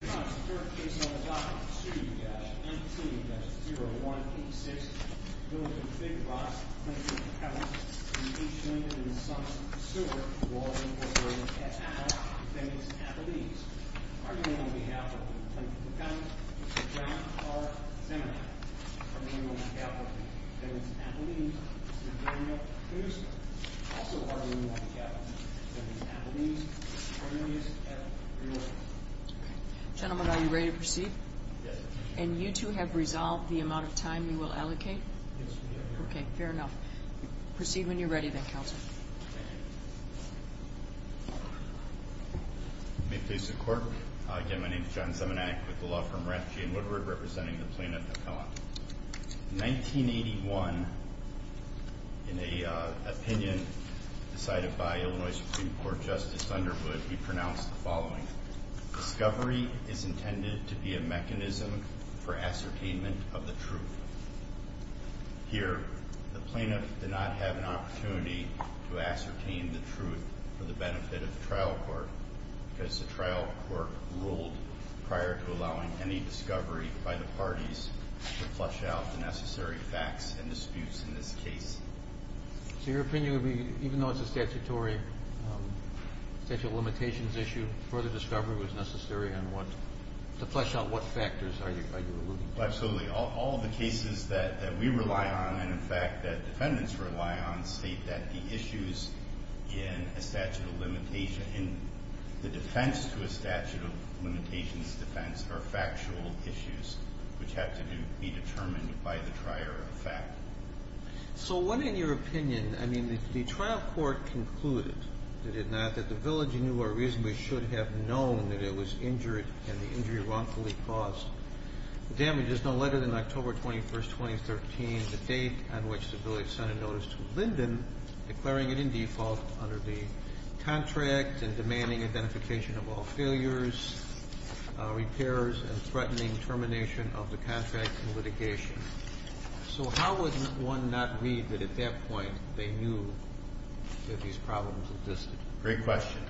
Brought on support of KCLE.com, 2-NT-0186, Building Big Rock, Lincoln, McKevitt. Linden and Sons Sewer, Water and Water. At Appel, Phoenix, Appelese. Also on behalf of Lincoln County, Mr. John R. Zamenkamp, for the memorable macabre of Phoenix, Appelese, and Daniel Penuska. Also on behalf of Phoenix, Appelese, Appelese, Appelese, Appelese. Gentlemen, are you ready to proceed? Yes. And you two have resolved the amount of time you will allocate? Yes, we have. Okay, fair enough. Proceed when you're ready then, Counselor. Thank you. May it please the Court. Again, my name is John Zamenkamp with the law firm Rapp, G. & Woodward, representing the plaintiff at Appel. In 1981, in an opinion decided by Illinois Supreme Court Justice Thunderwood, he pronounced the following, discovery is intended to be a mechanism for ascertainment of the truth. Here, the plaintiff did not have an opportunity to ascertain the truth for the benefit of the trial court, because the trial court ruled prior to allowing any discovery by the parties to flesh out the necessary facts and disputes in this case. So your opinion would be, even though it's a statutory statute of limitations issue, further discovery was necessary to flesh out what factors are you alluding to? Absolutely. All of the cases that we rely on, and in fact that defendants rely on, state that the issues in a statute of limitations, the defense to a statute of limitations defense are factual issues which have to be determined by the prior effect. So what, in your opinion, I mean, the trial court concluded, did it not, that the village knew or reasonably should have known that it was injured and the injury wrongfully caused. The damage is no later than October 21, 2013, the date on which the village sent a notice to Linden, declaring it in default under the contract and demanding identification of all failures, repairs, and threatening termination of the contract and litigation. So how would one not read that, at that point, they knew that these problems existed? Great question.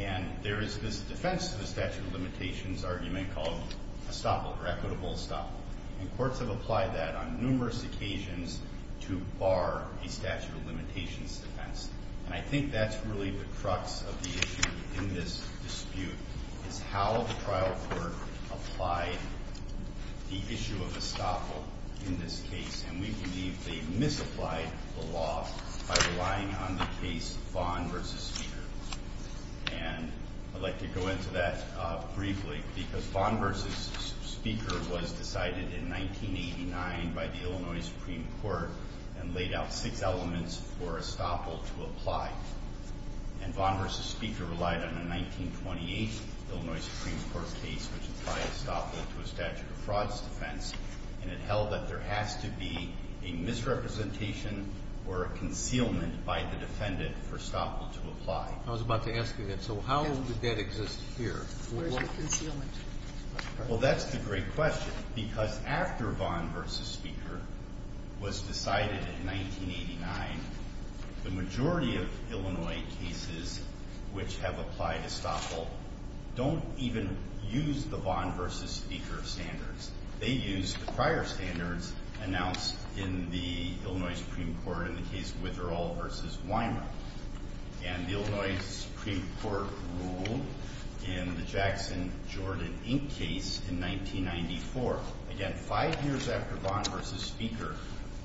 And there is this defense to the statute of limitations argument called estoppel or equitable estoppel, and courts have applied that on numerous occasions to bar a statute of limitations defense. And I think that's really the crux of the issue in this dispute, is how the trial court applied the issue of estoppel in this case. And we believe they misapplied the law by relying on the case Vaughn v. Speaker. And I'd like to go into that briefly because Vaughn v. Speaker was decided in 1989 by the Illinois Supreme Court and laid out six elements for estoppel to apply. And Vaughn v. Speaker relied on a 1928 Illinois Supreme Court case which applied estoppel to a statute of frauds defense and it held that there has to be a misrepresentation or a concealment by the defendant for estoppel to apply. I was about to ask you that. So how did that exist here? Where's the concealment? Well, that's the great question because after Vaughn v. Speaker was decided in 1989, the majority of Illinois cases which have applied estoppel don't even use the Vaughn v. Speaker standards. They use the prior standards announced in the Illinois Supreme Court in the case Witherall v. Weinraub. And the Illinois Supreme Court ruled in the Jackson-Jordan Inc. case in 1994. Again, five years after Vaughn v. Speaker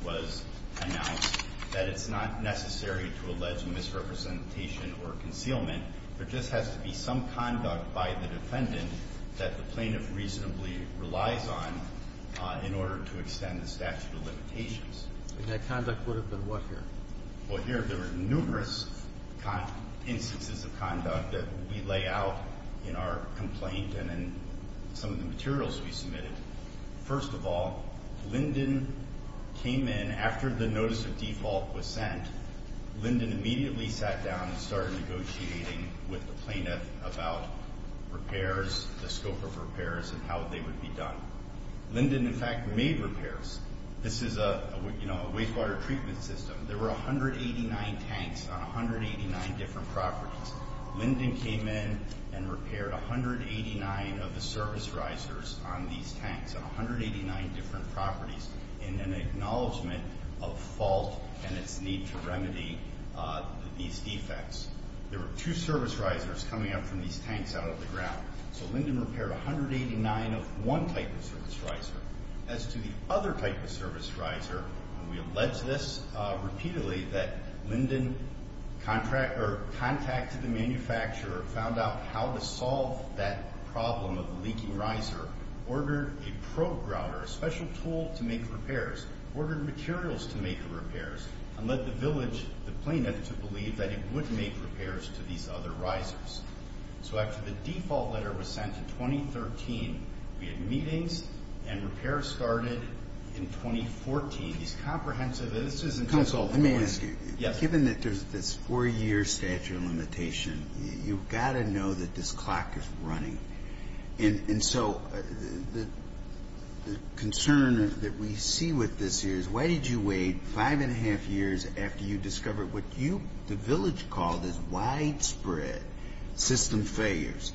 was announced that it's not necessary to allege misrepresentation or concealment. There just has to be some conduct by the defendant that the plaintiff reasonably relies on in order to extend the statute of limitations. And that conduct would have been what here? Well, here there are numerous instances of conduct that we lay out in our complaint and in some of the materials we submitted. First of all, Linden came in after the notice of default was sent. Linden immediately sat down and started negotiating with the plaintiff about repairs, the scope of repairs, and how they would be done. Linden, in fact, made repairs. This is a wastewater treatment system. There were 189 tanks on 189 different properties. Linden came in and repaired 189 of the service risers on these tanks on 189 different properties in an acknowledgment of fault and its need to remedy these defects. There were two service risers coming up from these tanks out of the ground. So Linden repaired 189 of one type of service riser. As to the other type of service riser, we allege this repeatedly that Linden contacted the manufacturer, found out how to solve that problem of the leaking riser, ordered a probe grouter, a special tool to make repairs, ordered materials to make the repairs, and led the village, the plaintiff, to believe that it would make repairs to these other risers. So after the default letter was sent in 2013, we had meetings and repairs started in 2014. These comprehensive... Counsel, let me ask you. Yes. Given that there's this 4-year statute of limitation, you've got to know that this clock is running. And so the concern that we see with this here is, why did you wait 5 1⁄2 years after you discovered what you, the village, called as widespread system failures?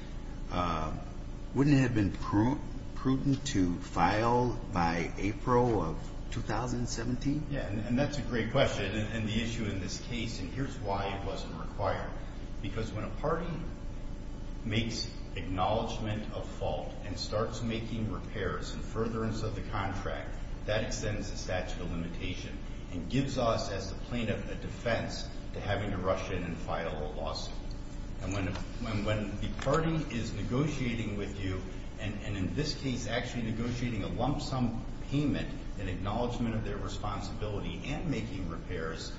Wouldn't it have been prudent to file by April of 2017? Yeah, and that's a great question, and the issue in this case, and here's why it wasn't required. Because when a party makes acknowledgment of fault and starts making repairs and furtherance of the contract, that extends the statute of limitation and gives us, as the plaintiff, a defense to having to rush in and file a lawsuit. And when the party is negotiating with you, and in this case actually negotiating a lump sum payment in acknowledgment of their responsibility and making repairs,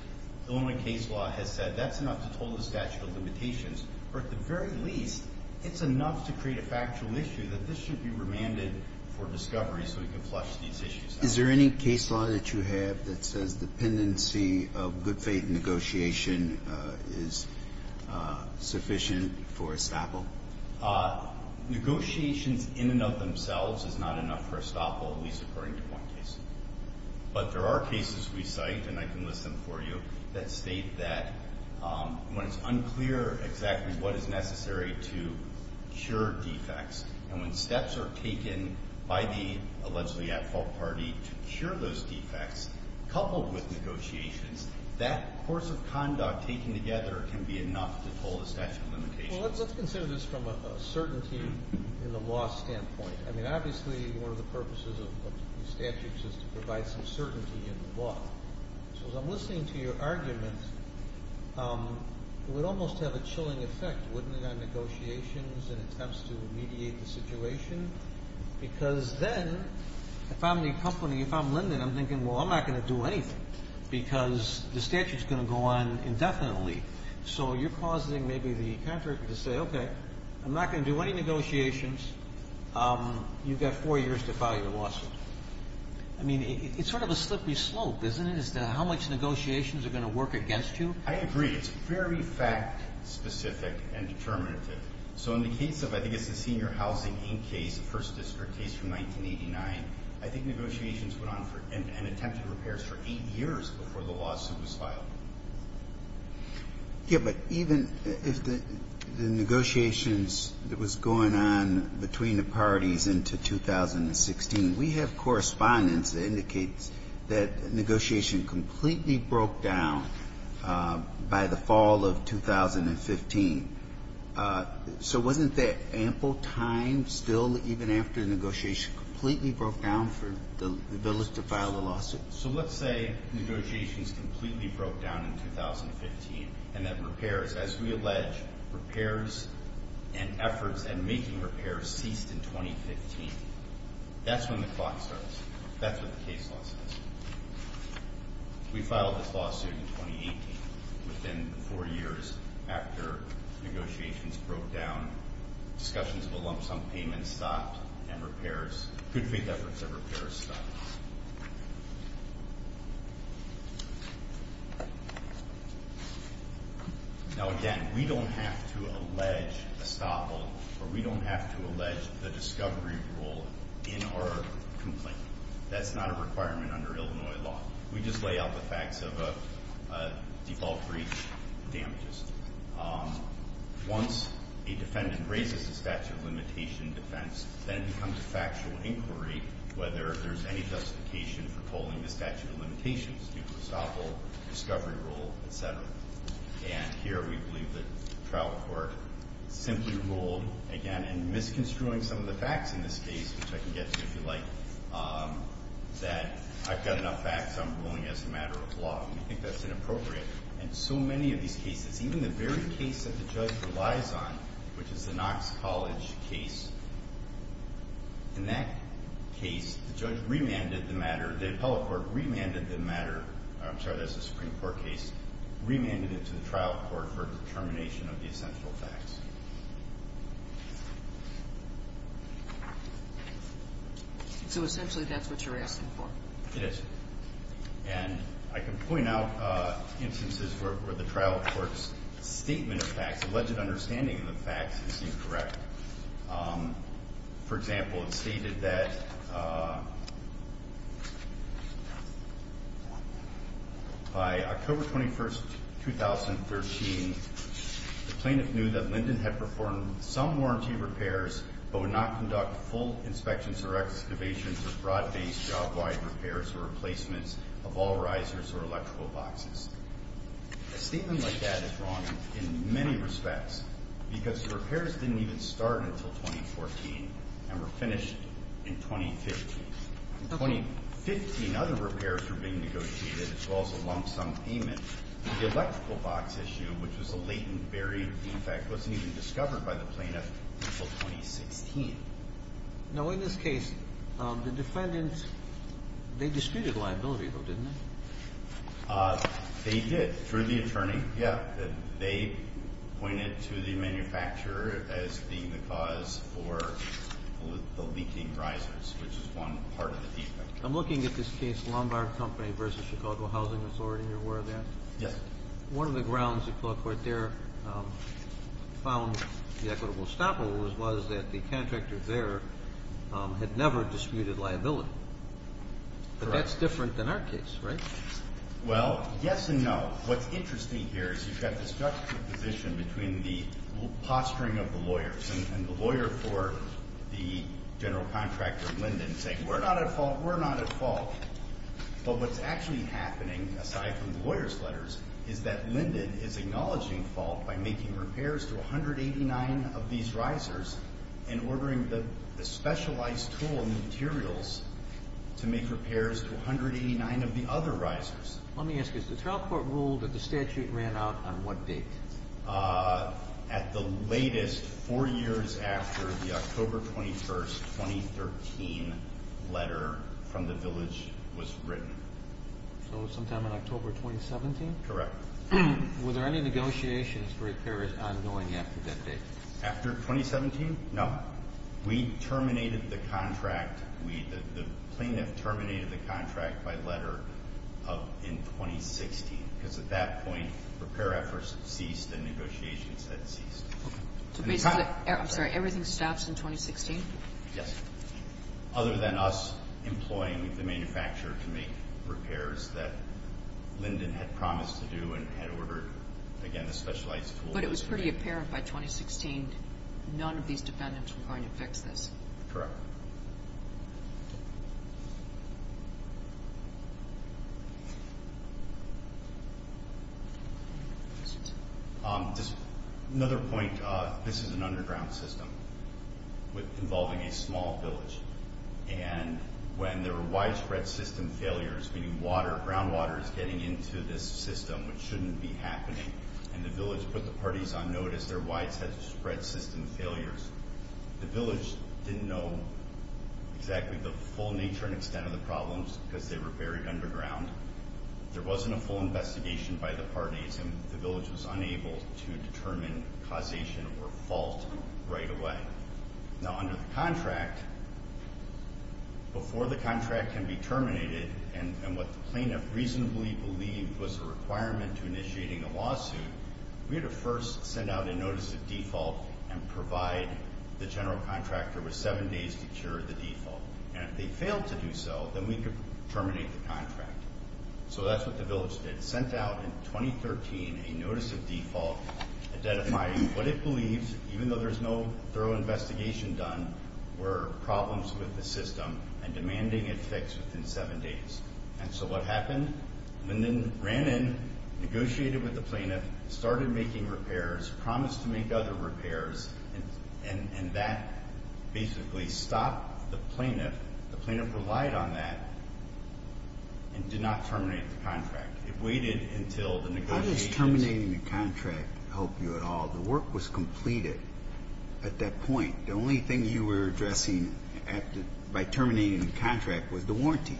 Illinois case law has said that's enough to toll the statute of limitations. Or at the very least, it's enough to create a factual issue that this should be remanded for discovery so we can flush these issues out. Is there any case law that you have that says the dependency of good faith negotiation is sufficient for estoppel? Negotiations in and of themselves is not enough for estoppel, at least according to one case. But there are cases we cite, and I can list them for you, that state that when it's unclear exactly what is necessary to cure defects and when steps are taken by the allegedly at-fault party to cure those defects, coupled with negotiations, that course of conduct taken together can be enough to toll the statute of limitations. Well, let's consider this from a certainty in the law standpoint. I mean, obviously one of the purposes of statutes is to provide some certainty in the law. So as I'm listening to your argument, it would almost have a chilling effect, wouldn't it, on negotiations and attempts to mediate the situation? Because then, if I'm the accompanying, if I'm Linden, I'm thinking, well, I'm not going to do anything because the statute is going to go on indefinitely. So you're causing maybe the contractor to say, okay, I'm not going to do any negotiations. You've got four years to file your lawsuit. I mean, it's sort of a slippery slope, isn't it, as to how much negotiations are going to work against you? I agree. It's very fact-specific and determinative. So in the case of, I think it's the senior housing in case, the first district case from 1989, I think negotiations went on and attempted repairs for eight years before the lawsuit was filed. Yeah. But even if the negotiations that was going on between the parties into 2016, we have correspondence that indicates that negotiation completely broke down by the fall of 2015. So wasn't that ample time still even after the negotiation completely broke down for the village to file the lawsuit? So let's say negotiations completely broke down in 2015 and that repairs, as we allege, repairs and efforts at making repairs ceased in 2015. That's when the clock starts. That's what the case law says. We filed this lawsuit in 2018. Within four years after negotiations broke down, discussions of a lump sum payment stopped and repairs, good faith efforts at repairs stopped. Now, again, we don't have to allege a stop hold, or we don't have to allege the discovery rule in our complaint. That's not a requirement under Illinois law. We just lay out the facts of default breach damages. Once a defendant raises the statute of limitation defense, then it becomes a factual inquiry whether there's any justification for pulling the statute of limitations, due to a stop hold, discovery rule, et cetera. And misconstruing some of the facts in this case, which I can get to if you like, that I've got enough facts, I'm ruling as a matter of law. We think that's inappropriate. And so many of these cases, even the very case that the judge relies on, which is the Knox College case, in that case, the judge remanded the matter, the appellate court remanded the matter, I'm sorry, that's the Supreme Court case, remanded it to the trial court for determination of the essential facts. So essentially that's what you're asking for? It is. And I can point out instances where the trial court's statement of facts, alleged understanding of the facts, is incorrect. For example, it's stated that By October 21st, 2013, the plaintiff knew that Lyndon had performed some warranty repairs, but would not conduct full inspections or excavations or fraud-based job-wide repairs or replacements of all risers or electrical boxes. A statement like that is wrong in many respects, because the repairs didn't even start until 2014, and were finished in 2015. In 2015, other repairs were being negotiated, as well as a lump-sum payment. The electrical box issue, which was a latent, buried defect, wasn't even discovered by the plaintiff until 2016. Now, in this case, the defendants, they disputed liability, though, didn't they? They did, through the attorney. They pointed to the manufacturer as being the cause for the leaking risers, which is one part of the defect. I'm looking at this case, Lombard Company v. Chicago Housing Authority. You're aware of that? Yes. One of the grounds the court there found the equitable stopper was that the contractor there had never disputed liability. But that's different than our case, right? Well, yes and no. What's interesting here is you've got this juxtaposition between the posturing of the lawyers and the lawyer for the general contractor, Linden, saying, We're not at fault, we're not at fault. But what's actually happening, aside from the lawyer's letters, is that Linden is acknowledging fault by making repairs to 189 of these risers and ordering the specialized tool and materials to make repairs to 189 of the other risers. Let me ask you, the trial court ruled that the statute ran out on what date? At the latest, four years after the October 21, 2013, letter from the village was written. So sometime in October 2017? Correct. Were there any negotiations for repairs ongoing after that date? After 2017? No. We terminated the contract. The plaintiff terminated the contract by letter in 2016, because at that point repair efforts ceased and negotiations had ceased. I'm sorry. Everything stops in 2016? Yes. Other than us employing the manufacturer to make repairs that Linden had promised to do and had ordered, again, a specialized tool. But it was pretty apparent by 2016 none of these defendants were going to fix this. Correct. Another point, this is an underground system involving a small village. And when there were widespread system failures, meaning groundwater is getting into this system, which shouldn't be happening, and the village put the parties on notice, there were widespread system failures. The village didn't know exactly the full nature and extent of the problems because they were buried underground. There wasn't a full investigation by the parties, and the village was unable to determine causation or fault right away. Now, under the contract, before the contract can be terminated, and what the plaintiff reasonably believed was a requirement to initiating a lawsuit, we had to first send out a notice of default and provide the general contractor with seven days to cure the default. And if they failed to do so, then we could terminate the contract. So that's what the village did. Sent out in 2013 a notice of default identifying what it believes, even though there's no thorough investigation done, were problems with the system and demanding it fixed within seven days. And so what happened? Linden ran in, negotiated with the plaintiff, started making repairs, promised to make other repairs, and that basically stopped the plaintiff. The plaintiff relied on that and did not terminate the contract. It waited until the negotiations. How does terminating the contract help you at all? The work was completed at that point. The only thing you were addressing by terminating the contract was the warranty.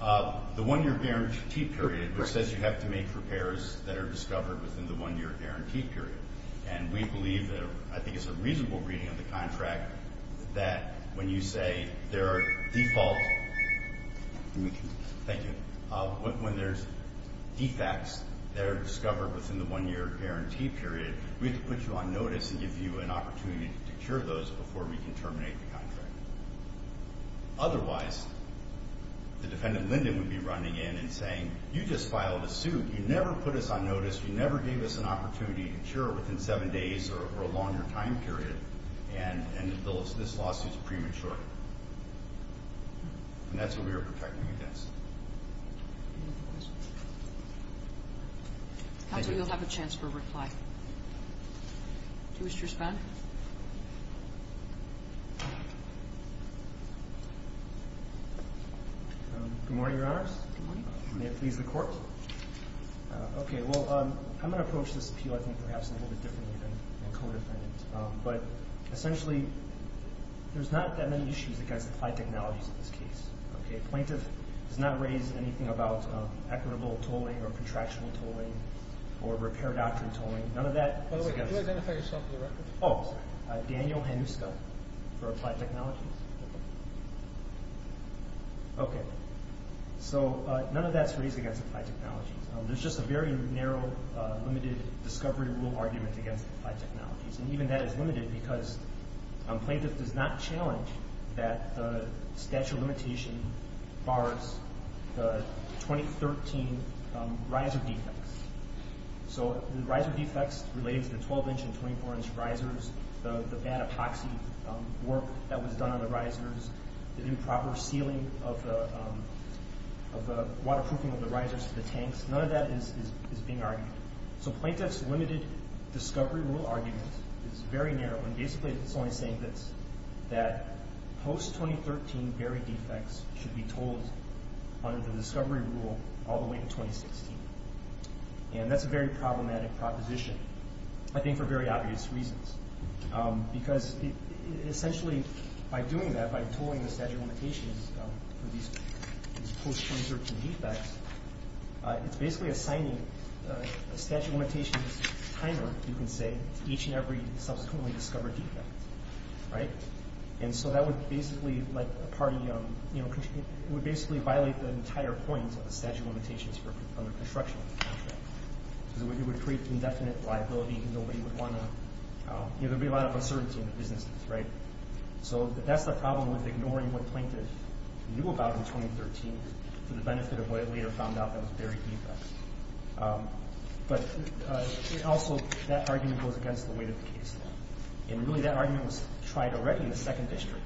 The one-year guarantee period, which says you have to make repairs that are discovered within the one-year guarantee period. And we believe that, I think it's a reasonable reading of the contract, that when you say there are defaults, when there's defects that are discovered within the one-year guarantee period, we have to put you on notice and give you an opportunity to cure those before we can terminate the contract. Otherwise, the defendant Linden would be running in and saying, you just filed a suit, you never put us on notice, you never gave us an opportunity to cure within seven days or a longer time period, and this lawsuit is premature. And that's what we were protecting against. Any other questions? I'm sure you'll have a chance for a reply. Do you wish to respond? Good morning, Your Honors. Good morning. May it please the Court? Okay, well, I'm going to approach this appeal, I think, perhaps a little bit differently than the co-defendant. But essentially, there's not that many issues against applied technologies in this case. Okay? Plaintiff does not raise anything about equitable tolling or contractual tolling or repair doctrine tolling. None of that is against... By the way, could you identify yourself for the record? Oh, sorry. Daniel Hanuska for applied technologies. Okay. So none of that's raised against applied technologies. There's just a very narrow, limited discovery rule argument against applied technologies. And even that is limited because plaintiff does not challenge that the statute of limitation bars the 2013 riser defects. So the riser defects related to the 12-inch and 24-inch risers, the bad epoxy work that was done on the risers, the improper sealing of the waterproofing of the risers to the tanks, none of that is being argued. So plaintiff's limited discovery rule argument is very narrow. And basically it's only saying this, that post-2013 barrier defects should be tolled under the discovery rule all the way to 2016. And that's a very problematic proposition, I think for very obvious reasons. Because essentially by doing that, by tolling the statute of limitations for these post-2013 defects, it's basically assigning a statute of limitations timer, you can say, to each and every subsequently discovered defect. Right? And so that would basically violate the entire point of the statute of limitations under construction. It would create indefinite liability because nobody would want to— there would be a lot of uncertainty in the businesses, right? So that's the problem with ignoring what plaintiff knew about in 2013 for the benefit of what it later found out that was buried defects. But also that argument goes against the weight of the case. And really that argument was tried already in the second district.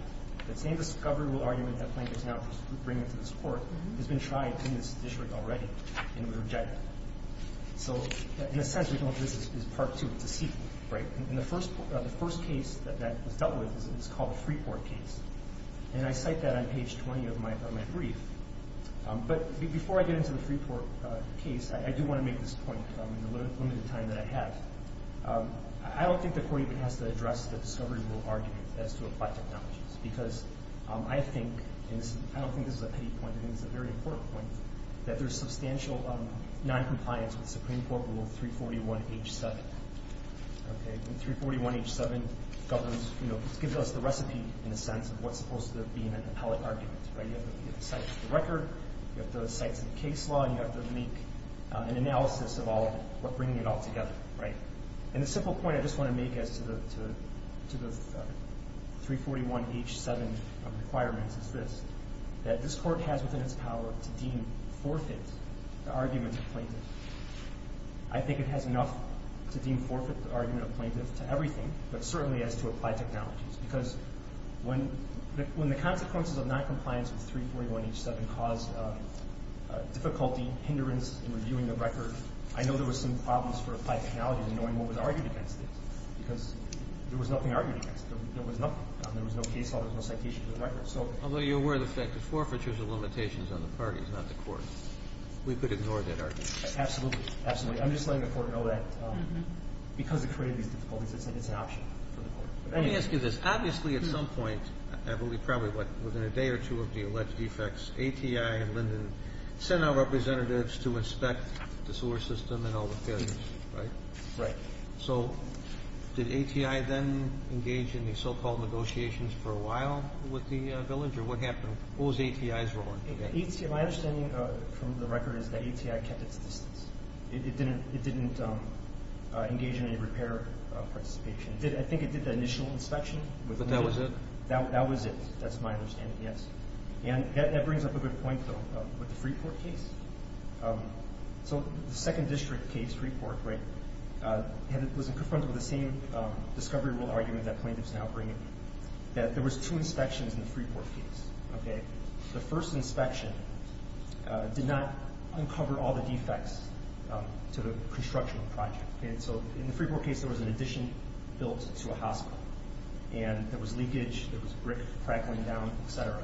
The same discovery rule argument that plaintiff's now bringing to this Court has been tried in this district already, and it was rejected. So in a sense, this is part two. It's a sequel, right? And the first case that that was dealt with is called the Freeport case. And I cite that on page 20 of my brief. But before I get into the Freeport case, I do want to make this point in the limited time that I have. I don't think the Court even has to address the discovery rule argument as to applied technologies because I think—and I don't think this is a petty point, I think it's a very important point— that there's substantial noncompliance with Supreme Court Rule 341H7. Okay? And 341H7 governs—you know, gives us the recipe, in a sense, of what's supposed to be an appellate argument, right? You have to cite the record, you have to cite some case law, and you have to make an analysis of all—bringing it all together, right? And a simple point I just want to make as to the 341H7 requirements is this, that this Court has within its power to deem forfeit the argument of plaintiff. I think it has enough to deem forfeit the argument of plaintiff to everything, but certainly as to applied technologies. Because when the consequences of noncompliance with 341H7 caused difficulty, hindrance in reviewing the record, I know there were some problems for applied technologies in knowing what was argued against it because there was nothing argued against it. There was nothing. There was no case law. There was no citation to the record. So— Although you're aware of the fact that forfeiture is a limitation on the parties, not the Court. We could ignore that argument. Absolutely. I'm just letting the Court know that because it created these difficulties, it's an option for the Court. Let me ask you this. Obviously at some point, I believe probably within a day or two of the alleged defects, ATI and Linden sent our representatives to inspect the sewer system and all the failures, right? Right. So did ATI then engage in the so-called negotiations for a while with the village? Or what happened? What was ATI's role? My understanding from the record is that ATI kept its distance. It didn't engage in any repair participation. I think it did the initial inspection. But that was it? That was it. That's my understanding, yes. And that brings up a good point, though, with the Freeport case. So the second district case, Freeport, right, was confronted with the same discovery rule argument that plaintiffs now bring in, that there was two inspections in the Freeport case, okay? The first inspection did not uncover all the defects to the construction of the project. And so in the Freeport case, there was an addition built to a hospital, and there was leakage, there was brick crack going down, et cetera.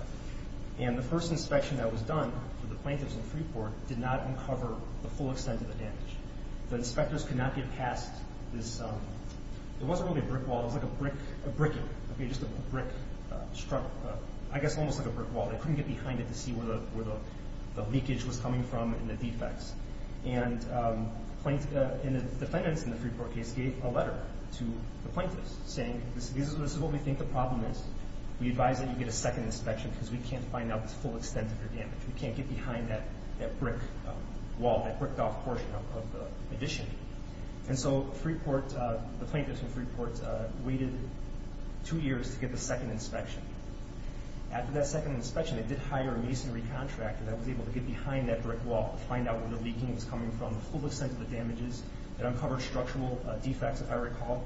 And the first inspection that was done with the plaintiffs in Freeport did not uncover the full extent of the damage. The inspectors could not get past this. It wasn't really a brick wall. It was like a brick, just a brick, I guess almost like a brick wall. They couldn't get behind it to see where the leakage was coming from and the defects. And the defendants in the Freeport case gave a letter to the plaintiffs, saying this is what we think the problem is. We advise that you get a second inspection because we can't find out the full extent of your damage. We can't get behind that brick wall, that bricked-off portion of the addition. And so the plaintiffs in Freeport waited two years to get the second inspection. After that second inspection, they did hire a masonry contractor that was able to get behind that brick wall to find out where the leaking was coming from, the full extent of the damages. It uncovered structural defects, if I recall.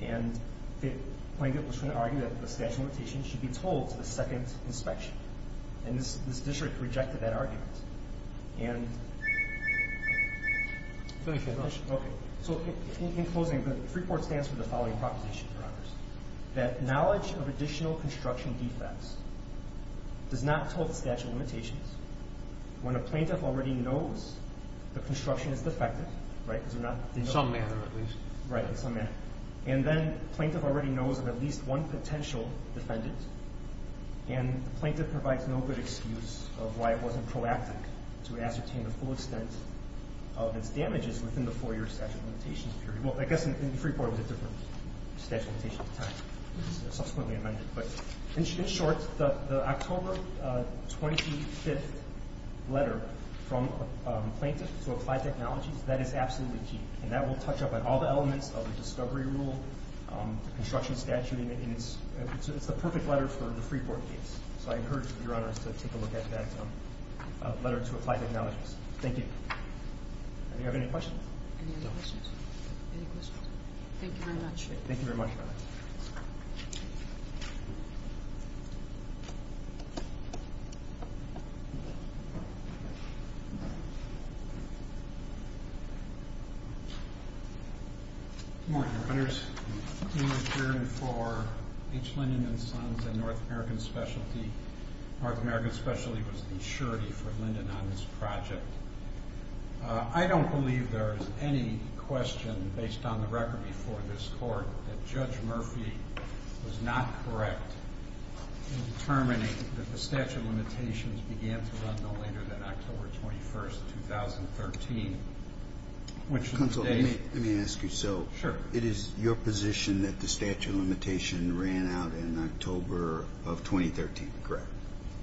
And the plaintiff was going to argue that the statute of limitations should be told to the second inspection. And this district rejected that argument. And so in closing, Freeport stands for the following proposition. That knowledge of additional construction defects does not tell the statute of limitations. When a plaintiff already knows the construction is defective, right? Some manner, at least. Right, some manner. And then the plaintiff already knows of at least one potential defendant. And the plaintiff provides no good excuse of why it wasn't proactive to ascertain the full extent of its damages within the four-year statute of limitations period. Well, I guess in Freeport it was a different statute of limitations at the time. Subsequently amended. But in short, the October 25th letter from a plaintiff to Applied Technologies, that is absolutely key. And that will touch up on all the elements of the discovery rule, the construction statute, and it's the perfect letter for the Freeport case. So I encourage your honors to take a look at that letter to Applied Technologies. Thank you. Do you have any questions? No. Any other questions? Any questions? Thank you very much. Thank you very much. Good morning, honors. I'm here for H. Linden and Sons and North American Specialty. North American Specialty was the surety for Linden on this project. I don't believe there is any question based on the record before this Court that Judge Murphy was not correct in determining that the statute of limitations began to run no later than October 21st, 2013, which is today. Counsel, let me ask you. Sure. So it is your position that the statute of limitation ran out in October of 2013, correct?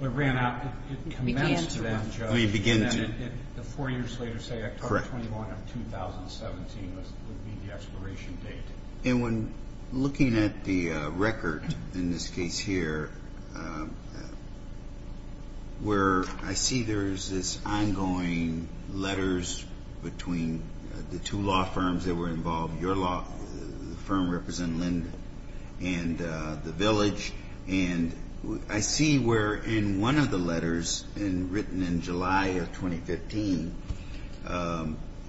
It ran out. It began to run, Judge. The four years later, say, October 21st of 2017 would be the expiration date. And when looking at the record in this case here where I see there is this ongoing letters between the two law firms that were involved, your law firm representing Linden and the village, and I see where in one of the letters written in July of 2015,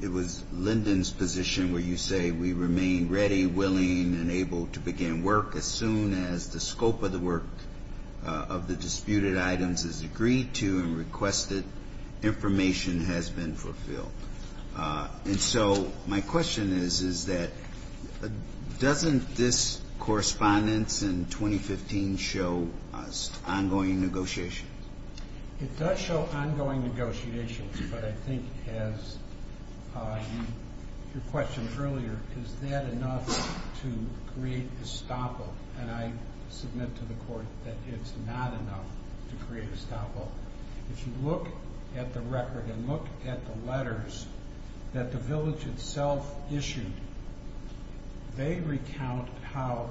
it was Linden's position where you say, We remain ready, willing, and able to begin work as soon as the scope of the work of the disputed items is agreed to and requested, information has been fulfilled. And so my question is, is that doesn't this correspondence in 2015 show ongoing negotiations? It does show ongoing negotiations. But I think, as your question earlier, is that enough to create a stop-all? And I submit to the Court that it's not enough to create a stop-all. If you look at the record and look at the letters that the village itself issued, they recount how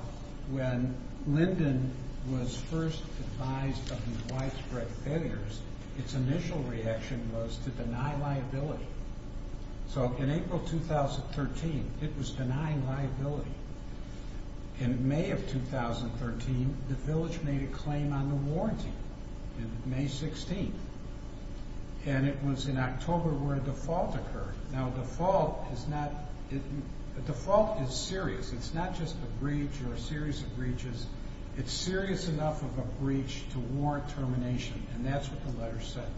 when Linden was first advised of the widespread failures, its initial reaction was to deny liability. So in April 2013, it was denying liability. In May of 2013, the village made a claim on the warranty. In May 16th, and it was in October where a default occurred. Now, a default is serious. It's not just a breach or a series of breaches. It's serious enough of a breach to warrant termination, and that's what the letters said.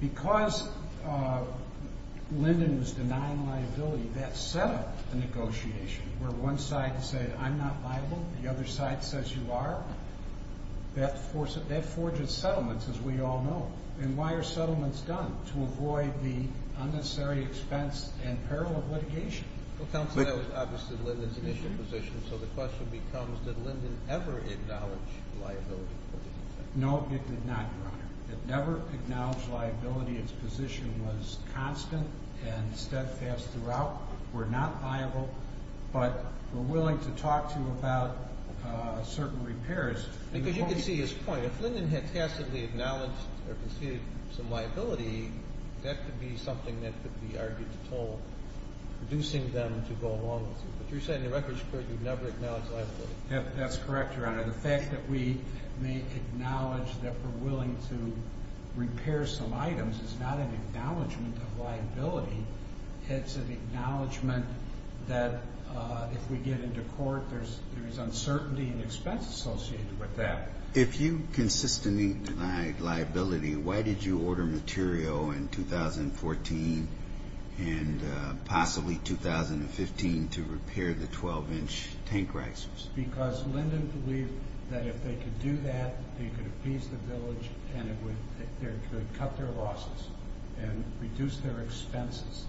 Because Linden was denying liability, that set up a negotiation where one side said, I'm not liable. The other side says you are. That forges settlements, as we all know. And why are settlements done? To avoid the unnecessary expense and peril of litigation. Well, counsel, that was obviously Linden's initial position. So the question becomes, did Linden ever acknowledge liability? No, it did not, Your Honor. It never acknowledged liability. Its position was constant and steadfast throughout. We're not liable. But we're willing to talk to you about certain repairs. Because you can see his point. If Linden had tacitly acknowledged or conceded some liability, that could be something that could be argued to toll reducing them to go along with it. But you're saying the record's clear. You've never acknowledged liability. That's correct, Your Honor. The fact that we may acknowledge that we're willing to repair some items is not an acknowledgement of liability. It's an acknowledgement that if we get into court, there's uncertainty in expense associated with that. If you consistently denied liability, why did you order material in 2014 and possibly 2015 to repair the 12-inch tank risers? Because Linden believed that if they could do that, they could appease the village and they could cut their losses and reduce their expenses.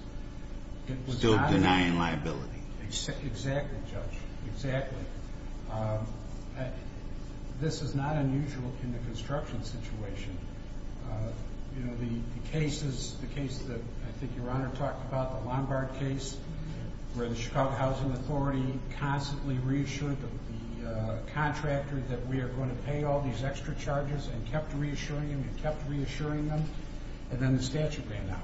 Still denying liability. Exactly, Judge. Exactly. This is not unusual in the construction situation. The case that I think Your Honor talked about, the Lombard case, where the Chicago Housing Authority constantly reassured the contractor that we are going to pay all these extra charges and kept reassuring them and kept reassuring them, and then the statute ran out.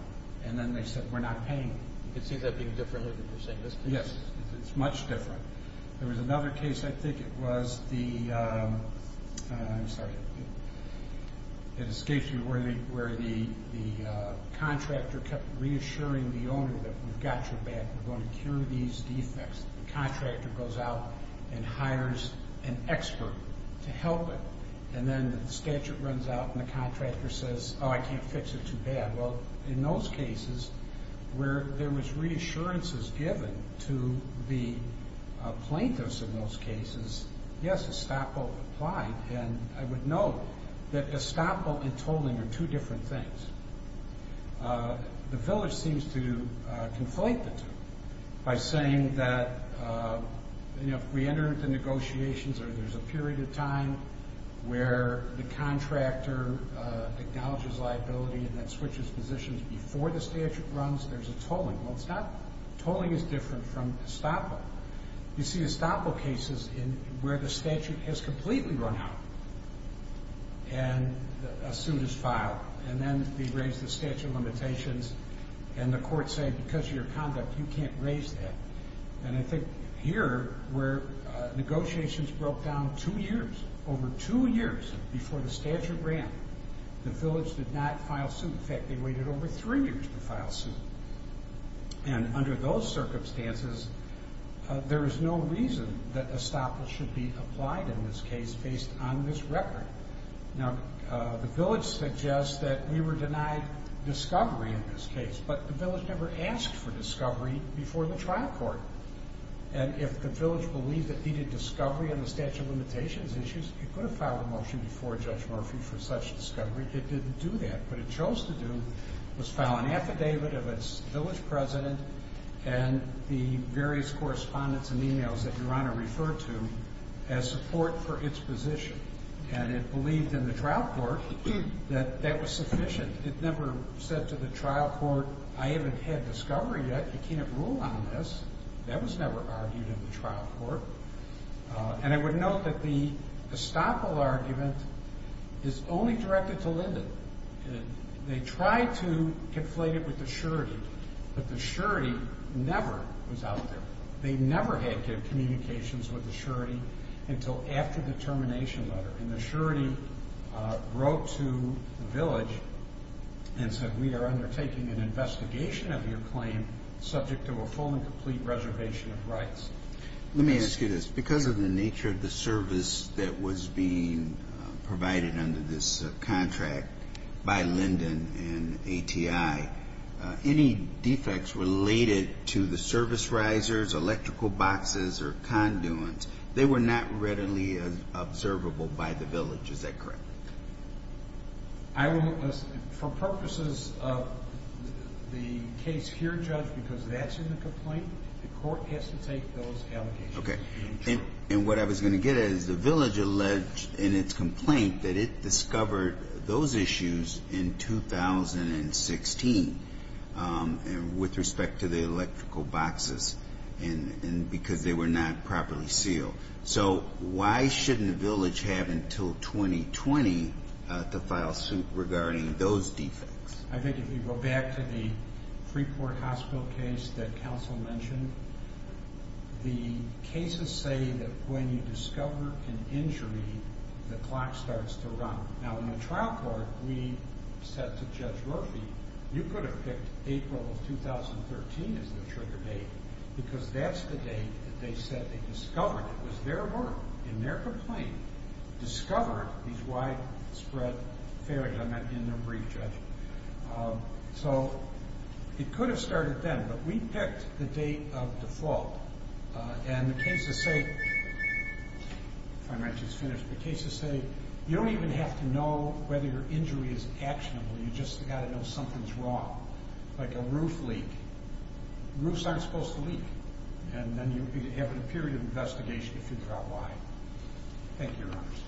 And then they said, we're not paying. It seems that being different than what you're saying. Yes, it's much different. There was another case, I think it was the, I'm sorry, it escaped me where the contractor kept reassuring the owner that we've got your back, we're going to cure these defects. The contractor goes out and hires an expert to help it. And then the statute runs out and the contractor says, oh, I can't fix it too bad. Well, in those cases where there was reassurances given to the plaintiffs in those cases, yes, estoppel applied. And I would note that estoppel and tolling are two different things. The village seems to conflate the two by saying that, you know, if we enter into negotiations or there's a period of time where the contractor acknowledges liability and then switches positions before the statute runs, there's a tolling. Well, it's not, tolling is different from estoppel. You see estoppel cases where the statute has completely run out and a suit is filed, and then they raise the statute limitations, and the court's saying, because of your conduct, you can't raise that. And I think here where negotiations broke down two years, over two years before the statute ran, the village did not file suit. In fact, they waited over three years to file suit. And under those circumstances, there is no reason that estoppel should be applied in this case based on this record. Now, the village suggests that we were denied discovery in this case, but the village never asked for discovery before the trial court. And if the village believed it needed discovery on the statute of limitations issues, it could have filed a motion before Judge Murphy for such discovery. It didn't do that. What it chose to do was file an affidavit of its village president and the various correspondence and e-mails that Your Honor referred to as support for its position. And it believed in the trial court that that was sufficient. It never said to the trial court, I haven't had discovery yet. You can't rule on this. That was never argued in the trial court. And I would note that the estoppel argument is only directed to Linden. They tried to conflate it with the surety, but the surety never was out there. They never had communications with the surety until after the termination letter. And the surety wrote to the village and said, we are undertaking an investigation of your claim subject to a full and complete reservation of rights. Let me ask you this. Because of the nature of the service that was being provided under this contract by Linden and ATI, any defects related to the service risers, electrical boxes, or conduits, they were not readily observable by the village. Is that correct? I won't listen. For purposes of the case here, Judge, because that's in the complaint, the court has to take those allegations. Okay. And what I was going to get at is the village alleged in its complaint that it discovered those issues in 2016 with respect to the electrical boxes because they were not properly sealed. So why shouldn't the village have until 2020 to file suit regarding those defects? I think if you go back to the Freeport Hospital case that counsel mentioned, the cases say that when you discover an injury, the clock starts to run. Now, in the trial court, we said to Judge Murphy, you could have picked April of 2013 as the trigger date because that's the date that they said they discovered. It was their word in their complaint, discovered these widespread failures. I meant in their brief, Judge. So it could have started then, but we picked the date of default. And the cases say you don't even have to know whether your injury is actionable. You just got to know something's wrong. Like a roof leak. Roofs aren't supposed to leak. And then you have a period of investigation to figure out why. Thank you, Your Honors.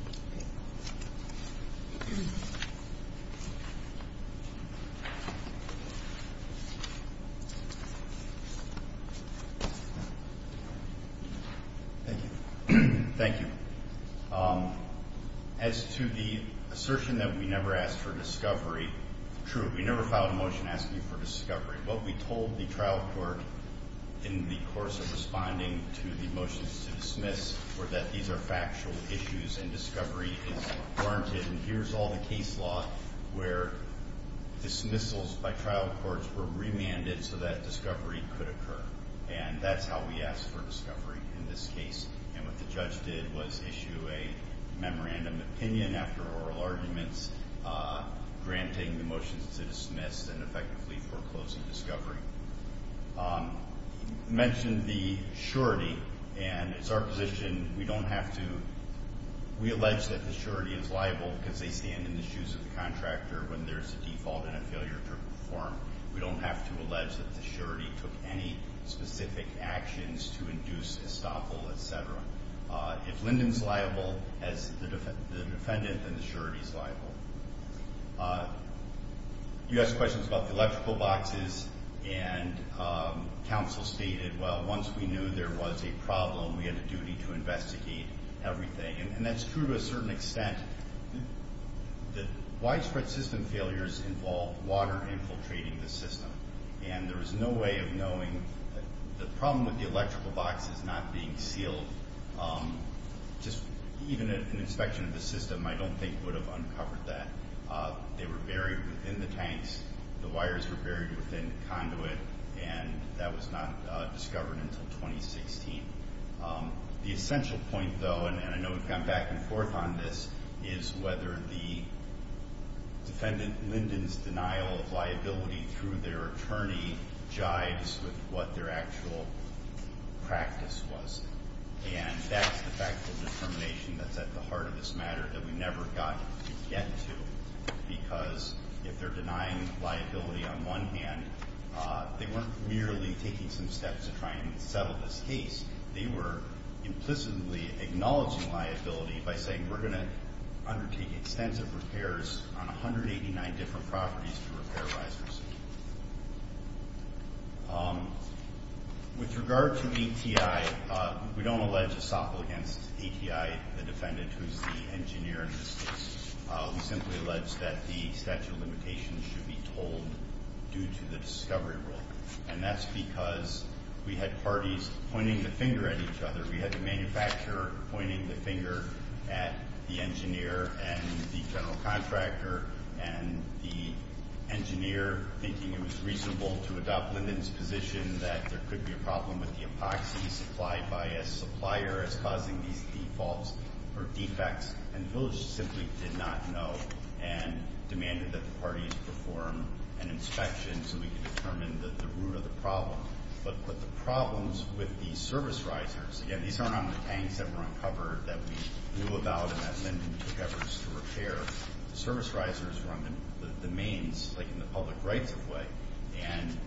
Thank you. As to the assertion that we never asked for discovery, true. We never filed a motion asking for discovery. What we told the trial court in the course of responding to the motions to dismiss were that these are factual issues and discovery is warranted. And here's all the case law where dismissals by trial courts were remanded so that discovery could occur. And that's how we asked for discovery in this case. And what the judge did was issue a memorandum of opinion after oral arguments, granting the motions to dismiss and effectively foreclosing discovery. You mentioned the surety. And it's our position we don't have to. We allege that the surety is liable because they stand in the shoes of the contractor when there's a default and a failure to perform. We don't have to allege that the surety took any specific actions to induce estoppel, et cetera. If Linden's liable as the defendant, then the surety's liable. You asked questions about the electrical boxes, and counsel stated, well, once we knew there was a problem, we had a duty to investigate everything. And that's true to a certain extent. The widespread system failures involve water infiltrating the system. And there was no way of knowing that the problem with the electrical box is not being sealed. Just even an inspection of the system I don't think would have uncovered that. They were buried within the tanks. The wires were buried within the conduit. And that was not discovered until 2016. The essential point, though, and I know we've gone back and forth on this, is whether the defendant Linden's denial of liability through their attorney jives with what their actual practice was. And that's the factual determination that's at the heart of this matter that we never got to get to. Because if they're denying liability on one hand, they weren't merely taking some steps to try and settle this case. They were implicitly acknowledging liability by saying, we're going to undertake extensive repairs on 189 different properties to repair vices. With regard to ATI, we don't allege a SOPL against ATI, the defendant who's the engineer in this case. We simply allege that the statute of limitations should be told due to the discovery rule. And that's because we had parties pointing the finger at each other. We had the manufacturer pointing the finger at the engineer and the general contractor, and the engineer thinking it was reasonable to adopt Linden's position that there could be a problem with the epoxy supplied by a supplier as causing these defaults or defects. And the village simply did not know and demanded that the parties perform an inspection so we could determine the root of the problem. But the problems with the service risers, again, these aren't on the tanks that were on cover that we knew about and that Linden took efforts to repair. The service risers were on the mains, like in the public rights-of-way. And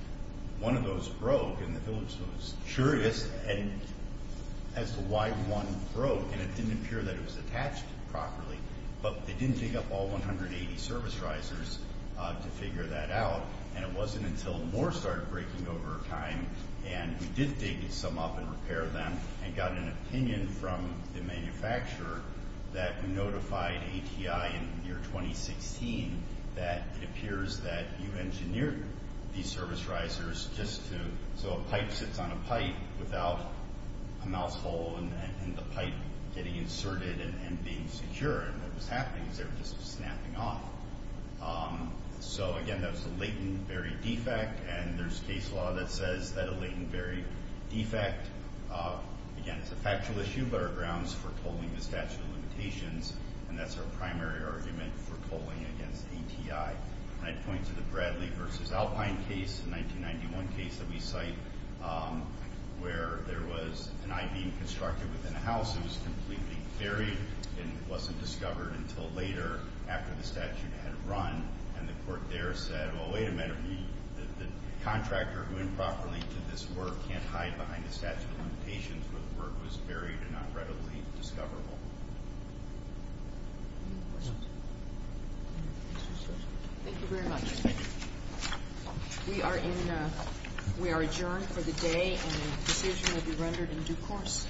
one of those broke, and the village was curious as to why one broke. And it didn't appear that it was attached properly, but they didn't dig up all 180 service risers to figure that out. And it wasn't until more started breaking over time, and we did dig some up and repair them, and got an opinion from the manufacturer that notified ATI in the year 2016 that it appears that you engineered these service risers just so a pipe sits on a pipe without a mouse hole and the pipe getting inserted and being secure. And what was happening was they were just snapping off. So, again, that was a latent, varied defect, and there's case law that says that a latent, varied defect, again, is a factual issue, but our grounds for tolling the statute of limitations, and that's our primary argument for tolling against ATI. And I'd point to the Bradley v. Alpine case, the 1991 case that we cite, where there was an I-beam constructed within a house that was completely buried and wasn't discovered until later after the statute had run. And the court there said, well, wait a minute. The contractor who improperly did this work can't hide behind the statute of limitations where the work was buried and not readily discoverable. Any questions? Thank you very much. We are adjourned for the day, and the decision will be rendered in due course.